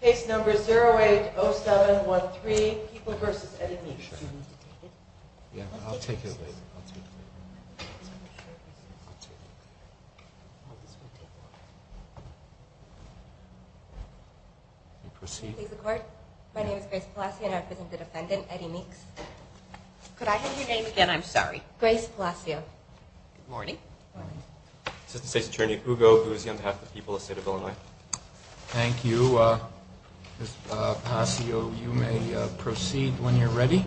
Case number 080713, People v. Eddie Meeks. My name is Grace Palacio and I represent the defendant, Eddie Meeks. Could I have your name again? I'm sorry. Grace Palacio. Good morning. Assistant State's Attorney, Hugo, who is on behalf of the people of the state of Illinois. Thank you. Ms. Palacio, you may proceed when you're ready.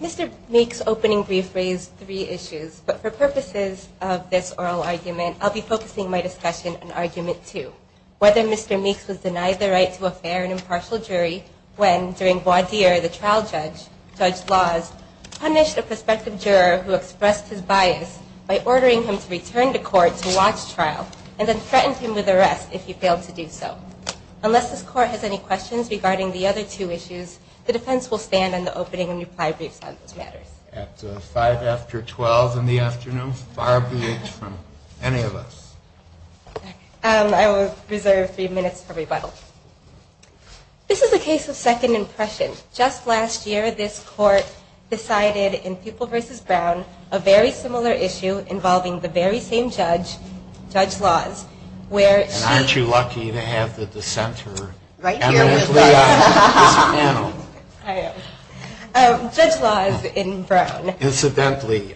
Mr. Meeks' opening brief raised three issues, but for purposes of this oral argument, I'll be focusing my discussion on argument two. Whether Mr. Meeks was denied the right to a fair and impartial jury when, during voir dire, the trial judge judged laws, punished a prospective juror who expressed his bias by ordering him to return to court to watch trial and then threatened him with arrest if he failed to do so. Unless this court has any questions regarding the other two issues, the defense will stand on the opening and reply briefs on those matters. At 5 after 12 in the afternoon, far be it from any of us. I will reserve three minutes for rebuttal. This is a case of second impression. Just last year, this court decided in Pupil v. Brown a very similar issue involving the very same judge, Judge Laws, where she... And aren't you lucky to have the dissenter evidently on this panel. I am. Judge Laws in Brown. Incidentally,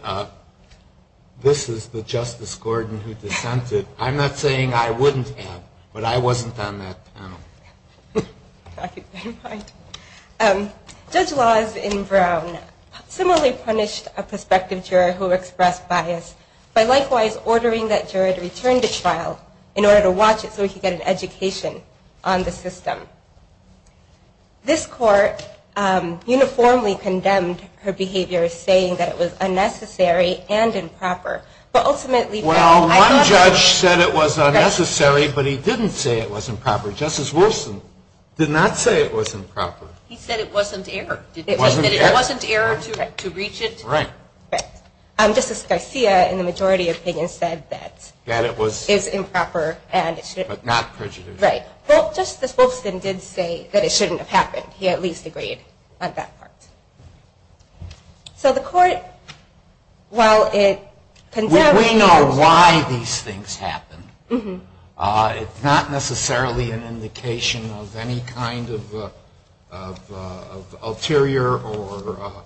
this is the Justice Gordon who dissented. I'm not saying I wouldn't have, but I wasn't on that panel. Judge Laws in Brown similarly punished a prospective juror who expressed bias by likewise ordering that juror to return to trial in order to watch it so he could get an education on the system. This court uniformly condemned her behavior, saying that it was unnecessary and improper, but ultimately... Well, one judge said it was unnecessary, but he didn't say it was improper. Justice Wolfson did not say it was improper. He said it wasn't error. He said it wasn't error to reach it. Right. Justice Garcia, in the majority opinion, said that it was improper. But not prejudicial. Right. Well, Justice Wolfson did say that it shouldn't have happened. He at least agreed on that part. So the court, while it condemned... We know why these things happen. It's not necessarily an indication of any kind of ulterior or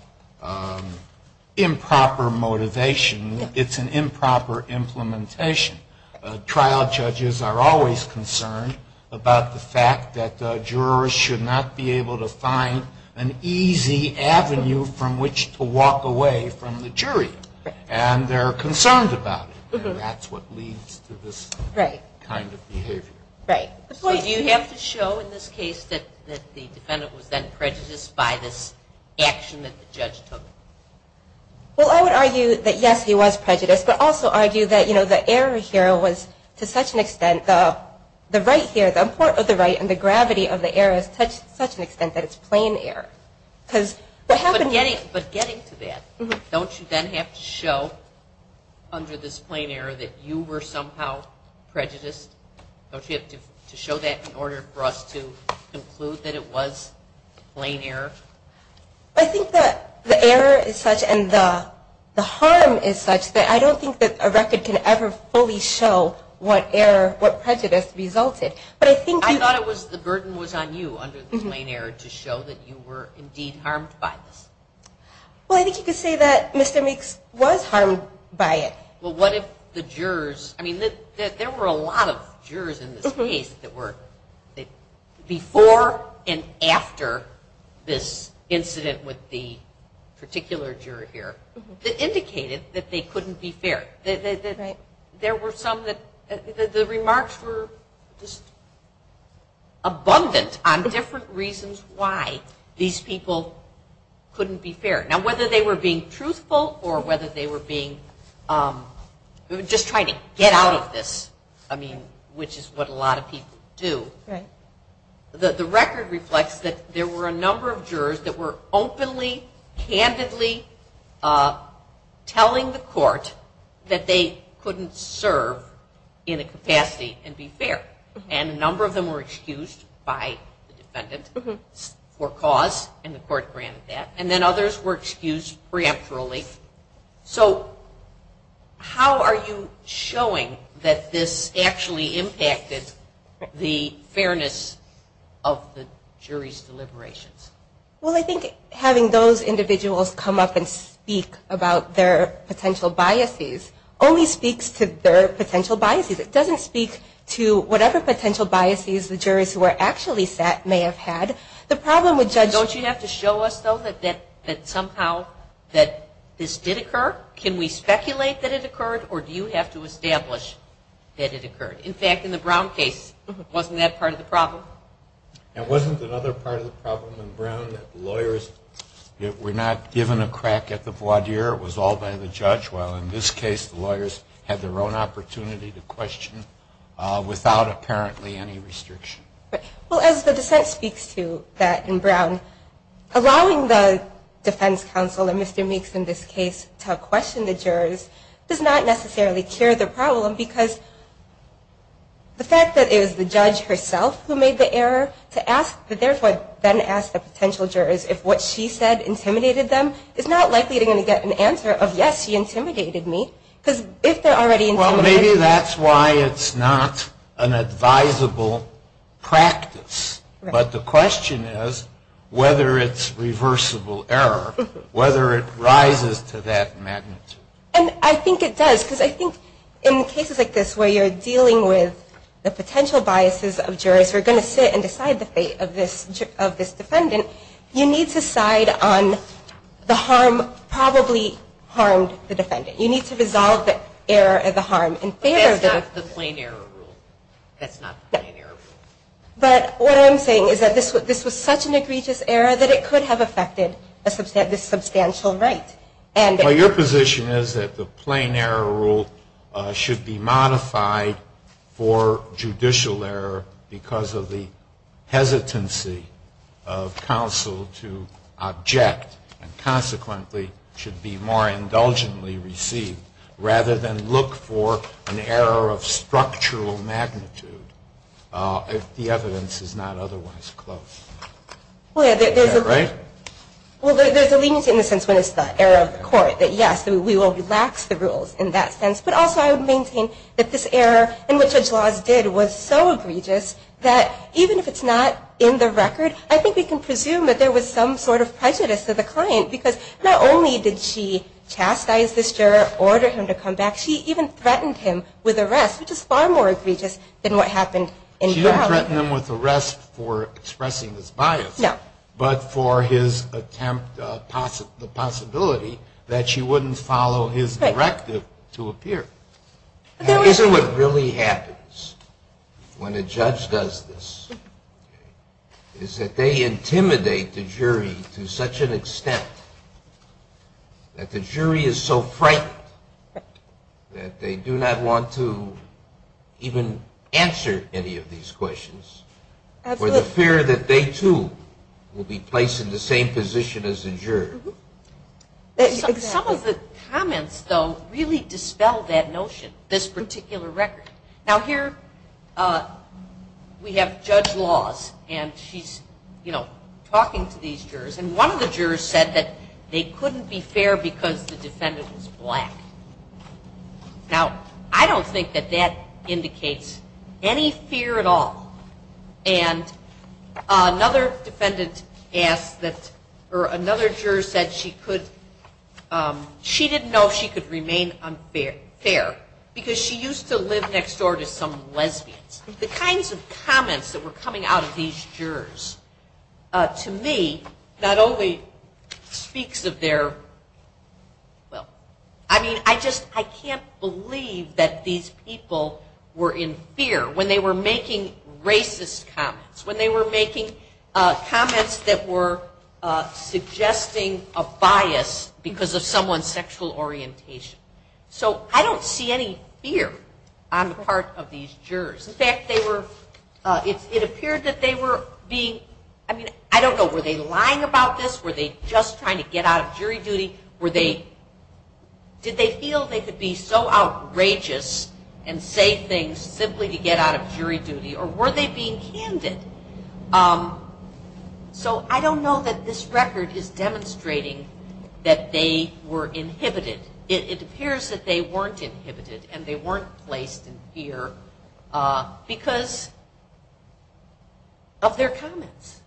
improper motivation. It's an improper implementation. Trial judges are always concerned about the fact that jurors should not be able to find an easy avenue from which to walk away from the jury. Right. And they're concerned about it, and that's what leads to this kind of behavior. Right. So do you have to show in this case that the defendant was then prejudiced by this action that the judge took? Well, I would argue that, yes, he was prejudiced, but also argue that, you know, the error here was to such an extent, the right here, the import of the right and the gravity of the error is to such an extent that it's plain error. But getting to that, don't you then have to show under this plain error that you were somehow prejudiced? Don't you have to show that in order for us to conclude that it was plain error? I think that the error is such and the harm is such that I don't think that a record can ever fully show what prejudice resulted. But I think... You thought it was the burden was on you under this plain error to show that you were indeed harmed by this. Well, I think you could say that Mr. Meeks was harmed by it. Well, what if the jurors, I mean, there were a lot of jurors in this case that were before and after this incident with the particular juror here that indicated that they couldn't be fair. Right. There were some that the remarks were just abundant on different reasons why these people couldn't be fair. Now, whether they were being truthful or whether they were being just trying to get out of this, I mean, which is what a lot of people do. Right. The record reflects that there were a number of jurors that were openly, candidly telling the court that they couldn't serve in a capacity and be fair. And a number of them were excused by the defendant for cause, and the court granted that. And then others were excused preemptorily. So how are you showing that this actually impacted the fairness of the jury's deliberations? Well, I think having those individuals come up and speak about their potential biases only speaks to their potential biases. It doesn't speak to whatever potential biases the jurors who were actually set may have had. Don't you have to show us, though, that somehow this did occur? Can we speculate that it occurred, or do you have to establish that it occurred? In fact, in the Brown case, wasn't that part of the problem? It wasn't another part of the problem in Brown that lawyers were not given a crack at the voir dire. It was all by the judge, while in this case the lawyers had their own opportunity to question without apparently any restriction. Well, as the dissent speaks to that in Brown, allowing the defense counsel, and Mr. Meeks in this case, to question the jurors does not necessarily cure the problem, because the fact that it was the judge herself who made the error to therefore then ask the potential jurors if what she said intimidated them is not likely to get an answer of, yes, she intimidated me, because if they're already intimidated. Well, maybe that's why it's not an advisable practice. But the question is whether it's reversible error, whether it rises to that magnitude. And I think it does, because I think in cases like this where you're dealing with the potential biases of jurors who are going to sit and decide the fate of this defendant, you need to side on the harm probably harmed the defendant. You need to resolve the error and the harm in favor of the defendant. But that's not the plain error rule. That's not the plain error rule. But what I'm saying is that this was such an egregious error that it could have affected this substantial right. Well, your position is that the plain error rule should be modified for judicial error because of the hesitancy of counsel to object and, consequently, should be more indulgently received, rather than look for an error of structural magnitude if the evidence is not otherwise close. Is that right? Well, there's a leniency in the sense when it's the error of the court, that, yes, we will relax the rules in that sense. But also I would maintain that this error in which the judge laws did was so egregious that even if it's not in the record, I think we can presume that there was some sort of prejudice to the client because not only did she chastise this juror, order him to come back, she even threatened him with arrest, which is far more egregious than what happened in trial. She didn't threaten him with arrest for expressing his bias. No. But for his attempt, the possibility that she wouldn't follow his directive to appear. Isn't what really happens when a judge does this is that they intimidate the jury to such an extent that the jury is so frightened that they do not want to even answer any of these questions for the fear that they, too, will be placed in the same position as the juror. Some of the comments, though, really dispel that notion, this particular record. Now, here we have judge laws, and she's, you know, talking to these jurors, and one of the jurors said that they couldn't be fair because the defendant was black. Now, I don't think that that indicates any fear at all. And another defendant asked that, or another juror said she could, she didn't know if she could remain unfair because she used to live next door to some lesbians. The kinds of comments that were coming out of these jurors, to me, not only speaks of their, well, I mean, I just, I can't believe that these people were in fear when they were making racist comments, when they were making comments that were suggesting a bias because of someone's sexual orientation. So I don't see any fear on the part of these jurors. In fact, they were, it appeared that they were being, I mean, I don't know, were they lying about this? Were they just trying to get out of jury duty? Were they, did they feel they could be so outrageous and say things simply to get out of jury duty? Or were they being candid? So I don't know that this record is demonstrating that they were inhibited. It appears that they weren't inhibited, and they weren't placed in fear because of their comments.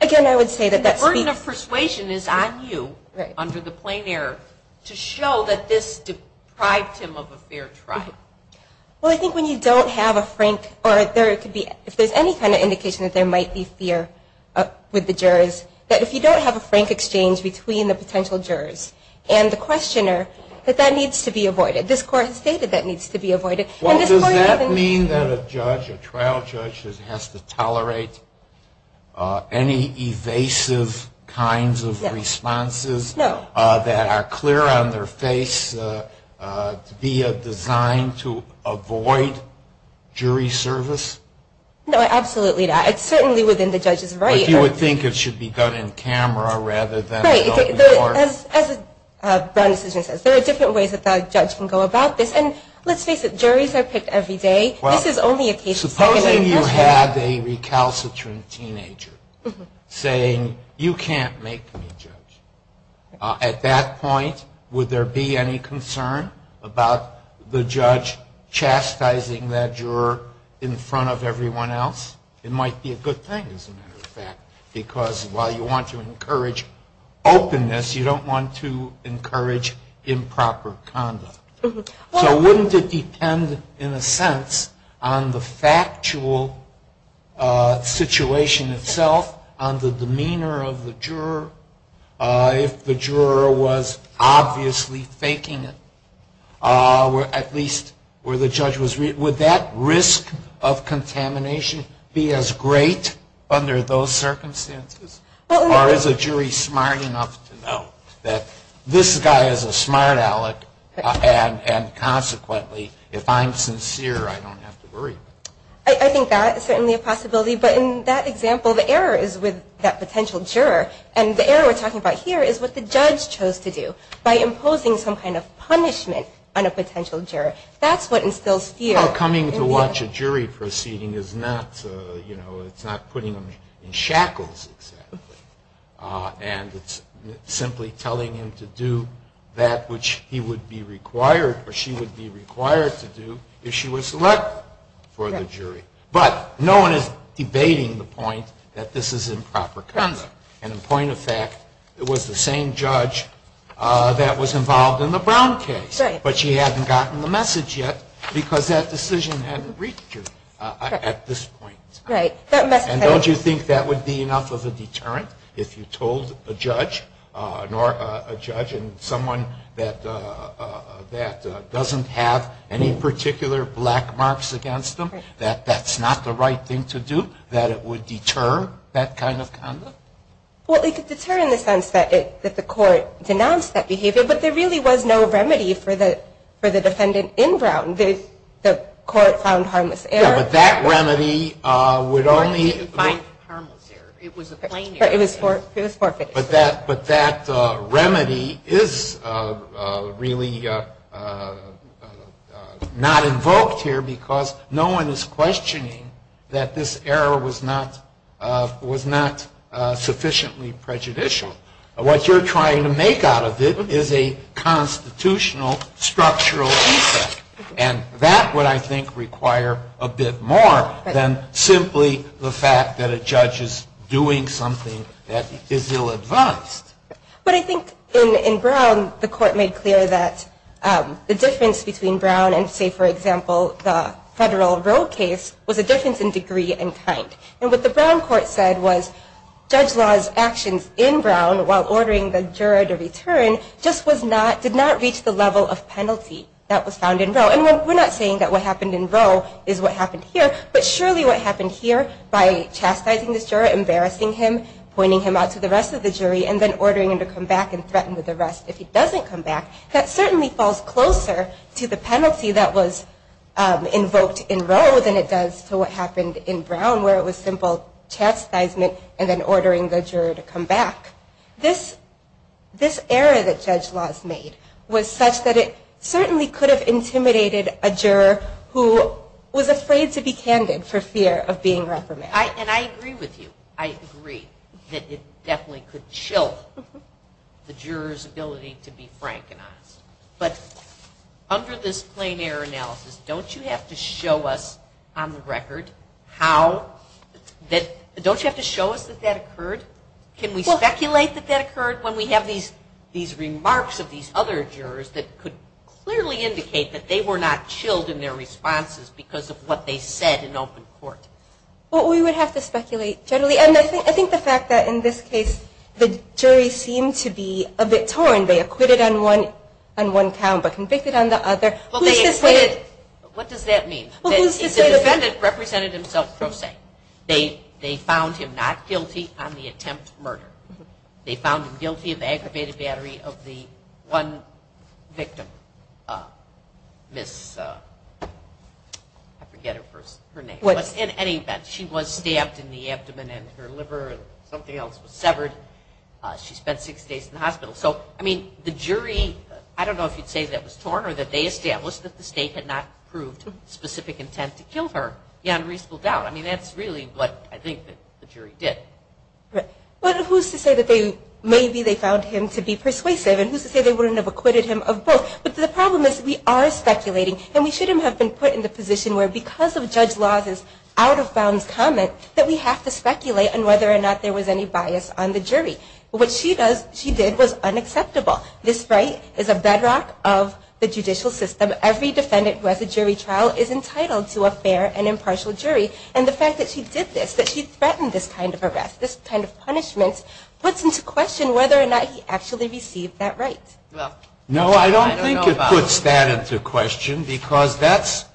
Again, I would say that that speaks. The burden of persuasion is on you under the plain air to show that this deprived him of a fair trial. Well, I think when you don't have a frank, or if there's any kind of indication that there might be fear with the jurors, that if you don't have a frank exchange between the potential jurors and the questioner, that that needs to be avoided. This court has stated that needs to be avoided. Well, does that mean that a judge, a trial judge has to tolerate any evasive kinds of responses that are clear on their face to be designed to avoid jury service? No, absolutely not. It's certainly within the judge's right. But you would think it should be done in camera rather than a court. Right. As a Brown decision says, there are different ways that the judge can go about this. And let's face it, juries are picked every day. This is only a case of second-degree murder. Supposing you have a recalcitrant teenager saying, you can't make me judge. At that point, would there be any concern about the judge chastising that juror in front of everyone else? It might be a good thing, as a matter of fact, because while you want to chastise, you don't want to encourage improper conduct. So wouldn't it depend, in a sense, on the factual situation itself, on the demeanor of the juror, if the juror was obviously faking it? At least where the judge was real. Would that risk of contamination be as great under those circumstances? Or is a jury smart enough to know that this guy is a smart aleck, and consequently, if I'm sincere, I don't have to worry? I think that is certainly a possibility. But in that example, the error is with that potential juror. And the error we're talking about here is what the judge chose to do by imposing some kind of punishment on a potential juror. That's what instills fear. Well, coming to watch a jury proceeding is not putting him in shackles, exactly. And it's simply telling him to do that which he would be required or she would be required to do if she was selected for the jury. But no one is debating the point that this is improper conduct. And, in point of fact, it was the same judge that was involved in the Brown case. But she hadn't gotten the message yet because that decision hadn't reached her at this point. And don't you think that would be enough of a deterrent if you told a judge and someone that doesn't have any particular black marks against them, that that's not the right thing to do, that it would deter that kind of conduct? Well, it could deter in the sense that the court denounced that behavior. But there really was no remedy for the defendant in Brown. The court found harmless error. Yeah, but that remedy would only – The court didn't find harmless error. It was a plain error. It was forfeited. But that remedy is really not invoked here because no one is questioning that this error was not sufficiently prejudicial. What you're trying to make out of it is a constitutional structural defect. And that would, I think, require a bit more than simply the fact that a judge is doing something that is ill-advised. But I think in Brown, the court made clear that the difference between Brown and, say, for example, the federal Roe case was a difference in degree and kind. And what the Brown court said was Judge Law's actions in Brown while ordering the juror to return just did not reach the level of penalty that was found in Roe. And we're not saying that what happened in Roe is what happened here, but surely what happened here by chastising this juror, embarrassing him, pointing him out to the rest of the jury, and then ordering him to come back and threaten with arrest if he doesn't come back, that certainly falls closer to the penalty that was invoked in Brown where it was simple chastisement and then ordering the juror to come back. This error that Judge Law's made was such that it certainly could have intimidated a juror who was afraid to be candid for fear of being reprimanded. And I agree with you. I agree that it definitely could chill the juror's ability to be frank and honest. But under this plain error analysis, don't you have to show us on the record how? Don't you have to show us that that occurred? Can we speculate that that occurred when we have these remarks of these other jurors that could clearly indicate that they were not chilled in their responses because of what they said in open court? Well, we would have to speculate generally. And I think the fact that in this case the jury seemed to be a bit torn. They acquitted on one count but convicted on the other. What does that mean? The defendant represented himself pro se. They found him not guilty on the attempt to murder. They found him guilty of aggravated battery of the one victim, Miss, I forget her name. In any event, she was stabbed in the abdomen and her liver and something else was severed. She spent six days in the hospital. So, I mean, the jury, I don't know if you'd say that was torn or that they established that the state had not proved specific intent to kill her. The unreasonable doubt. I mean, that's really what I think the jury did. Right. Well, who's to say that maybe they found him to be persuasive? And who's to say they wouldn't have acquitted him of both? But the problem is we are speculating and we shouldn't have been put in the position where because of Judge Law's out-of-bounds comment that we have to speculate on whether or not there was any bias on the jury. What she did was unacceptable. This right is a bedrock of the judicial system. Every defendant who has a jury trial is entitled to a fair and impartial jury. And the fact that she did this, that she threatened this kind of arrest, this kind of punishment, puts into question whether or not he actually received that right. No, I don't think it puts that into question because that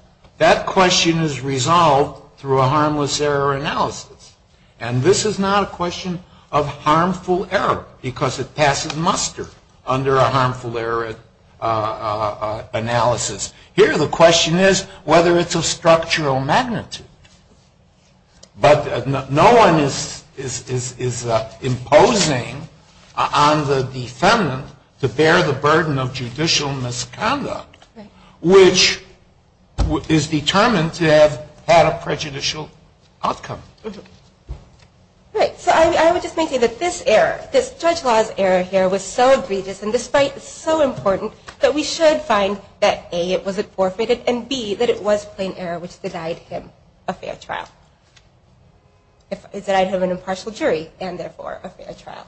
question is resolved through a harmless error analysis. And this is not a question of harmful error because it passes muster under a harmful error analysis. Here the question is whether it's of structural magnitude. But no one is imposing on the defendant to bear the burden of judicial misconduct which is determined to have had a prejudicial outcome. All right. So I would just make it that this error, this Judge Law's error here, was so egregious and despite it's so important that we should find that, A, it wasn't forfeited, and, B, that it was plain error which denied him a fair trial. It denied him an impartial jury and, therefore, a fair trial.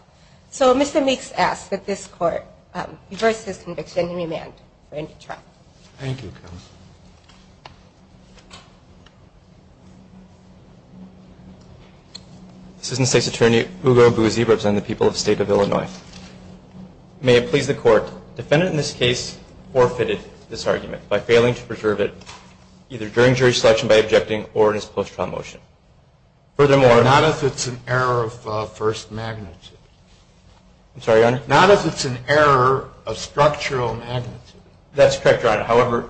So Mr. Meeks asks that this court reverse his conviction and remand for a new trial. Thank you, counsel. Assistant State's Attorney, Hugo Bouzy, representing the people of the State of Illinois. May it please the Court, defendant in this case forfeited this argument by failing to preserve it either during jury selection by objecting or in his post-trial motion. Furthermore. Not if it's an error of first magnitude. I'm sorry, Your Honor? Not if it's an error of structural magnitude. That's correct, Your Honor. However,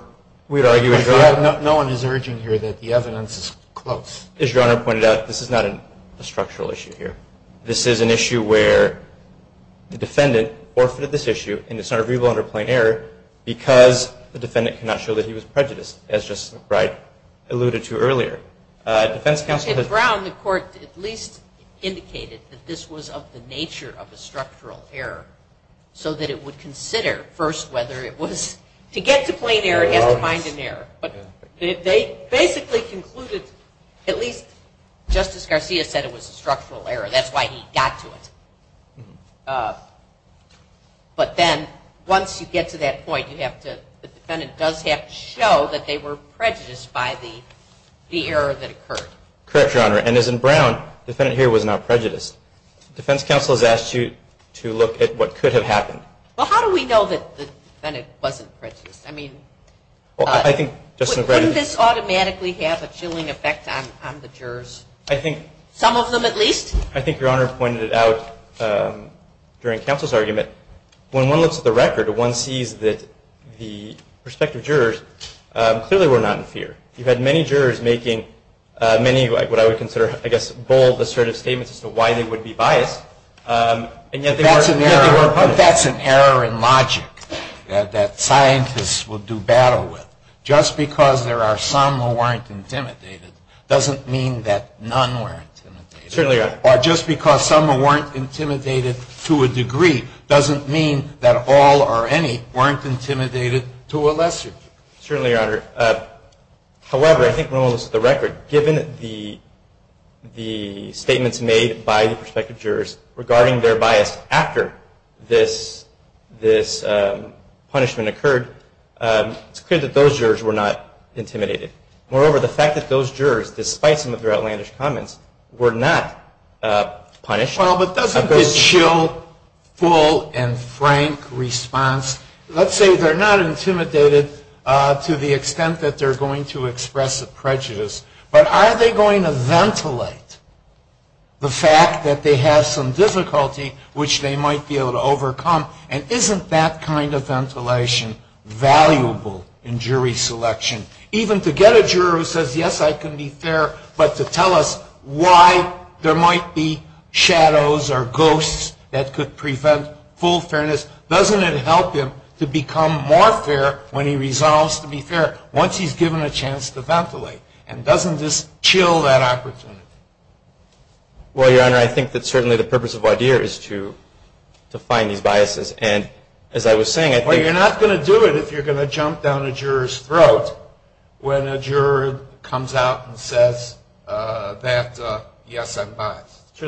we'd argue that. No one is urging here that the evidence is close. As Your Honor pointed out, this is not a structural issue here. This is an issue where the defendant forfeited this issue and it's not a reasonable and a plain error because the defendant could not show that he was prejudiced, as Justice Wright alluded to earlier. Defense counsel. Okay. Brown, the Court, at least indicated that this was of the nature of a structural error so that it would consider first whether it was. To get to plain error, it has to find an error. But they basically concluded, at least Justice Garcia said it was a structural error. That's why he got to it. But then once you get to that point, you have to, the defendant does have to show that they were prejudiced by the error that occurred. Correct, Your Honor. And as in Brown, the defendant here was not prejudiced. Defense counsel has asked you to look at what could have happened. Well, how do we know that the defendant wasn't prejudiced? I mean, well, I think, wouldn't this automatically have a chilling effect on the jurors? I think, some of them at least? I think Your Honor pointed it out during counsel's argument. When one looks at the record, one sees that the respective jurors clearly were not in fear. You had many jurors making many of what I would consider, I guess, bold assertive statements as to why they would be biased. That's an error in logic that scientists will do battle with. Just because there are some who weren't intimidated, doesn't mean that none were intimidated. Certainly, Your Honor. Or just because some weren't intimidated to a degree, doesn't mean that all or any weren't intimidated to a lesser degree. Certainly, Your Honor. However, I think when one looks at the record, given the statements made by the respective jurors regarding their bias, after this punishment occurred, it's clear that those jurors were not intimidated. Moreover, the fact that those jurors, despite some of their outlandish comments, were not punished. Well, but doesn't this show full and frank response? Let's say they're not intimidated to the extent that they're going to express a prejudice, but are they going to ventilate the fact that they have some difficulty, which they might be able to overcome? And isn't that kind of ventilation valuable in jury selection? Even to get a juror who says, yes, I can be fair, but to tell us why there might be shadows or ghosts that could prevent full fairness, doesn't it help him to become more fair when he resolves to be fair once he's given a chance to ventilate? And doesn't this chill that opportunity? Well, Your Honor, I think that certainly the purpose of WIDEAR is to find these biases. And as I was saying, I think you're not going to do it if you're going to jump down a juror's throat when a juror comes out and says that, yes, I'm biased.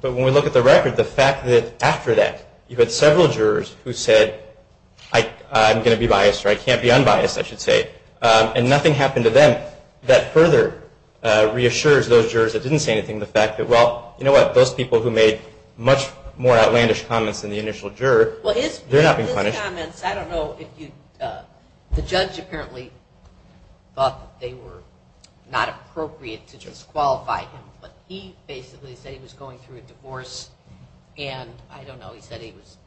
But when we look at the record, the fact that after that you had several jurors who said, I'm going to be biased or I can't be unbiased, I should say, and nothing happened to them, that further reassures those jurors that didn't say anything the fact that, well, you know what, those people who made much more outlandish comments than the initial juror, they're not being punished. Well, his comments, I don't know if you, the judge apparently thought that they were not appropriate to disqualify him, but he basically said he was going through a divorce and, I don't know, he said he was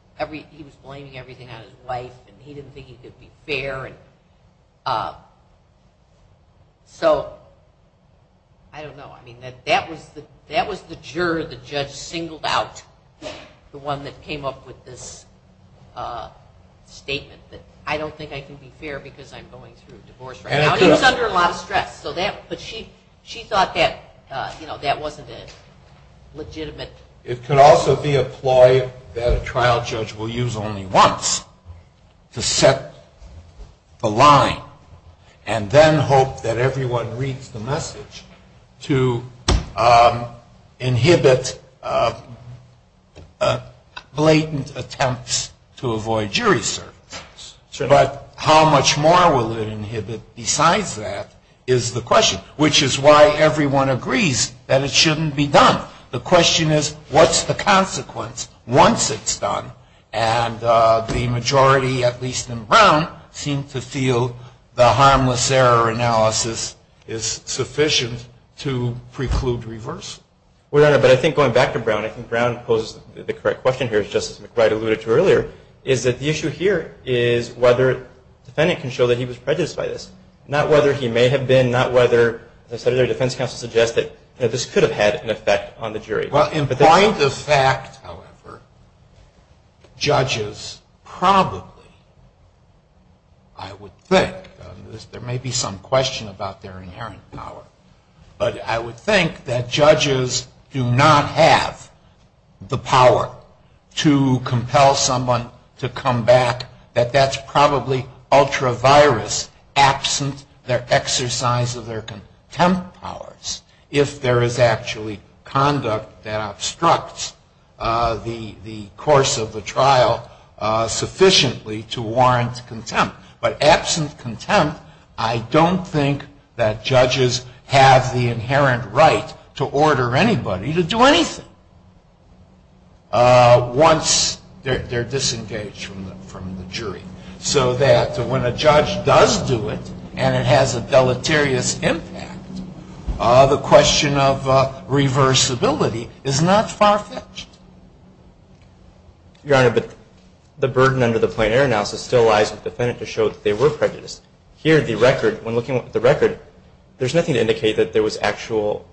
blaming everything on his wife and he didn't think he could be fair. So I don't know. I mean, that was the juror the judge singled out, the one that came up with this statement, that I don't think I can be fair because I'm going through a divorce right now. And he was under a lot of stress. But she thought that, you know, that wasn't a legitimate. It could also be a ploy that a trial judge will use only once to set the line and then hope that everyone reads the message to inhibit blatant attempts to avoid jury service. But how much more will it inhibit besides that is the question, which is why everyone agrees that it shouldn't be done. The question is, what's the consequence once it's done? And the majority, at least in Brown, seem to feel the harmless error analysis is sufficient to preclude reverse. Well, Your Honor, but I think going back to Brown, I think Brown poses the correct question here, as Justice McBride alluded to earlier, is that the issue here is whether the defendant can show that he was prejudiced by this, not whether he may have been, and not whether, as the Senator Defense Counsel suggested, this could have had an effect on the jury. Well, in point of fact, however, judges probably, I would think, there may be some question about their inherent power, but I would think that judges do not have the power to compel someone to come back, that that's probably ultra-virus, absent their exercise of their contempt powers, if there is actually conduct that obstructs the course of the trial sufficiently to warrant contempt. But absent contempt, I don't think that judges have the inherent right to order anybody to do anything once they're disengaged from the jury, so that when a judge does do it, and it has a deleterious impact, the question of reversibility is not far-fetched. Your Honor, but the burden under the plain error analysis still lies with the defendant to show that they were prejudiced. Here, the record, when looking at the record, there's nothing to indicate that there was actual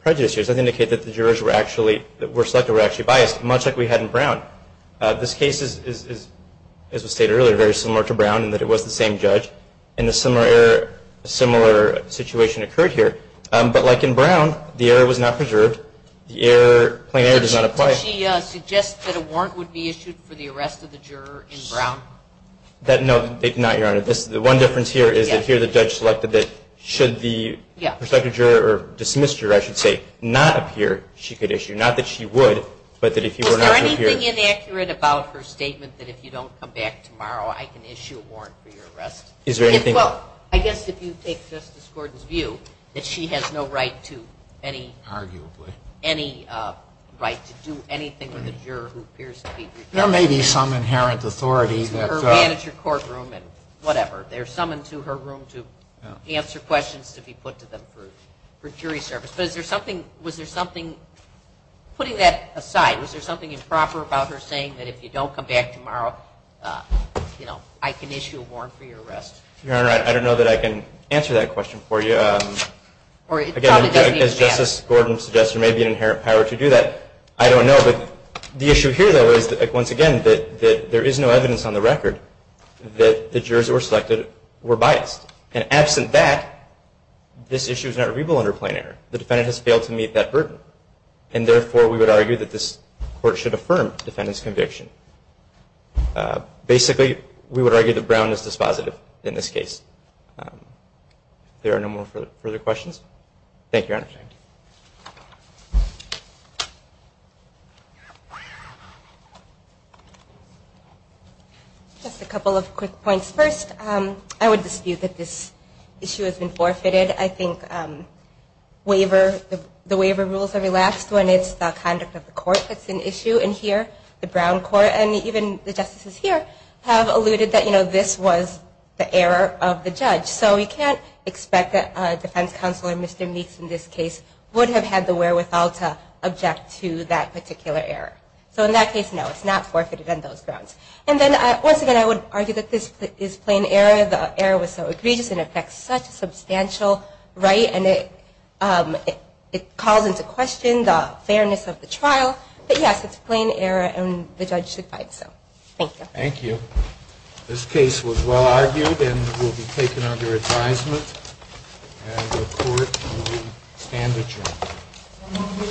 prejudice here. Nothing to indicate that the jurors that were selected were actually biased, much like we had in Brown. This case is, as was stated earlier, very similar to Brown in that it was the same judge, and a similar situation occurred here. But like in Brown, the error was not preserved. The plain error does not apply. Did she suggest that a warrant would be issued for the arrest of the juror in Brown? No, not, Your Honor. The one difference here is that here the judge selected that should the juror not appear, she could issue, not that she would, but that if you were not to appear. Was there anything inaccurate about her statement that if you don't come back tomorrow, I can issue a warrant for your arrest? Is there anything? Well, I guess if you take Justice Gordon's view, that she has no right to any, arguably, any right to do anything with a juror who appears to be prejudiced. There may be some inherent authority that, To her manager courtroom and whatever. There's someone to her room to answer questions, to be put to them for jury service. But is there something, was there something, putting that aside, was there something improper about her saying that if you don't come back tomorrow, you know, I can issue a warrant for your arrest? Your Honor, I don't know that I can answer that question for you. Again, as Justice Gordon suggested, there may be an inherent power to do that. I don't know, but the issue here, though, is that once again, that there is no evidence on the record that the jurors that were selected were biased. And absent that, this issue is not reviewable under plain error. The defendant has failed to meet that burden. And therefore, we would argue that this court should affirm the defendant's conviction. Basically, we would argue that Brown is dispositive in this case. If there are no more further questions. Thank you, Your Honor. Just a couple of quick points. First, I would dispute that this issue has been forfeited. I think the waiver rules are relaxed when it's the conduct of the court that's an issue. And here, the Brown court, and even the justices here, have alluded that, you know, this was the error of the judge. So we can't expect that a defense counselor, Mr. Meeks in this case, would have had the wherewithal to object to that particular error. So in that case, no, it's not forfeited on those grounds. And then, once again, I would argue that this is plain error. The error was so egregious, and it affects such a substantial right, and it calls into question the fairness of the trial. But yes, it's plain error, and the judge should find so. Thank you. Thank you. This case was well argued, and will be taken under advisement. And the court will stand adjourned.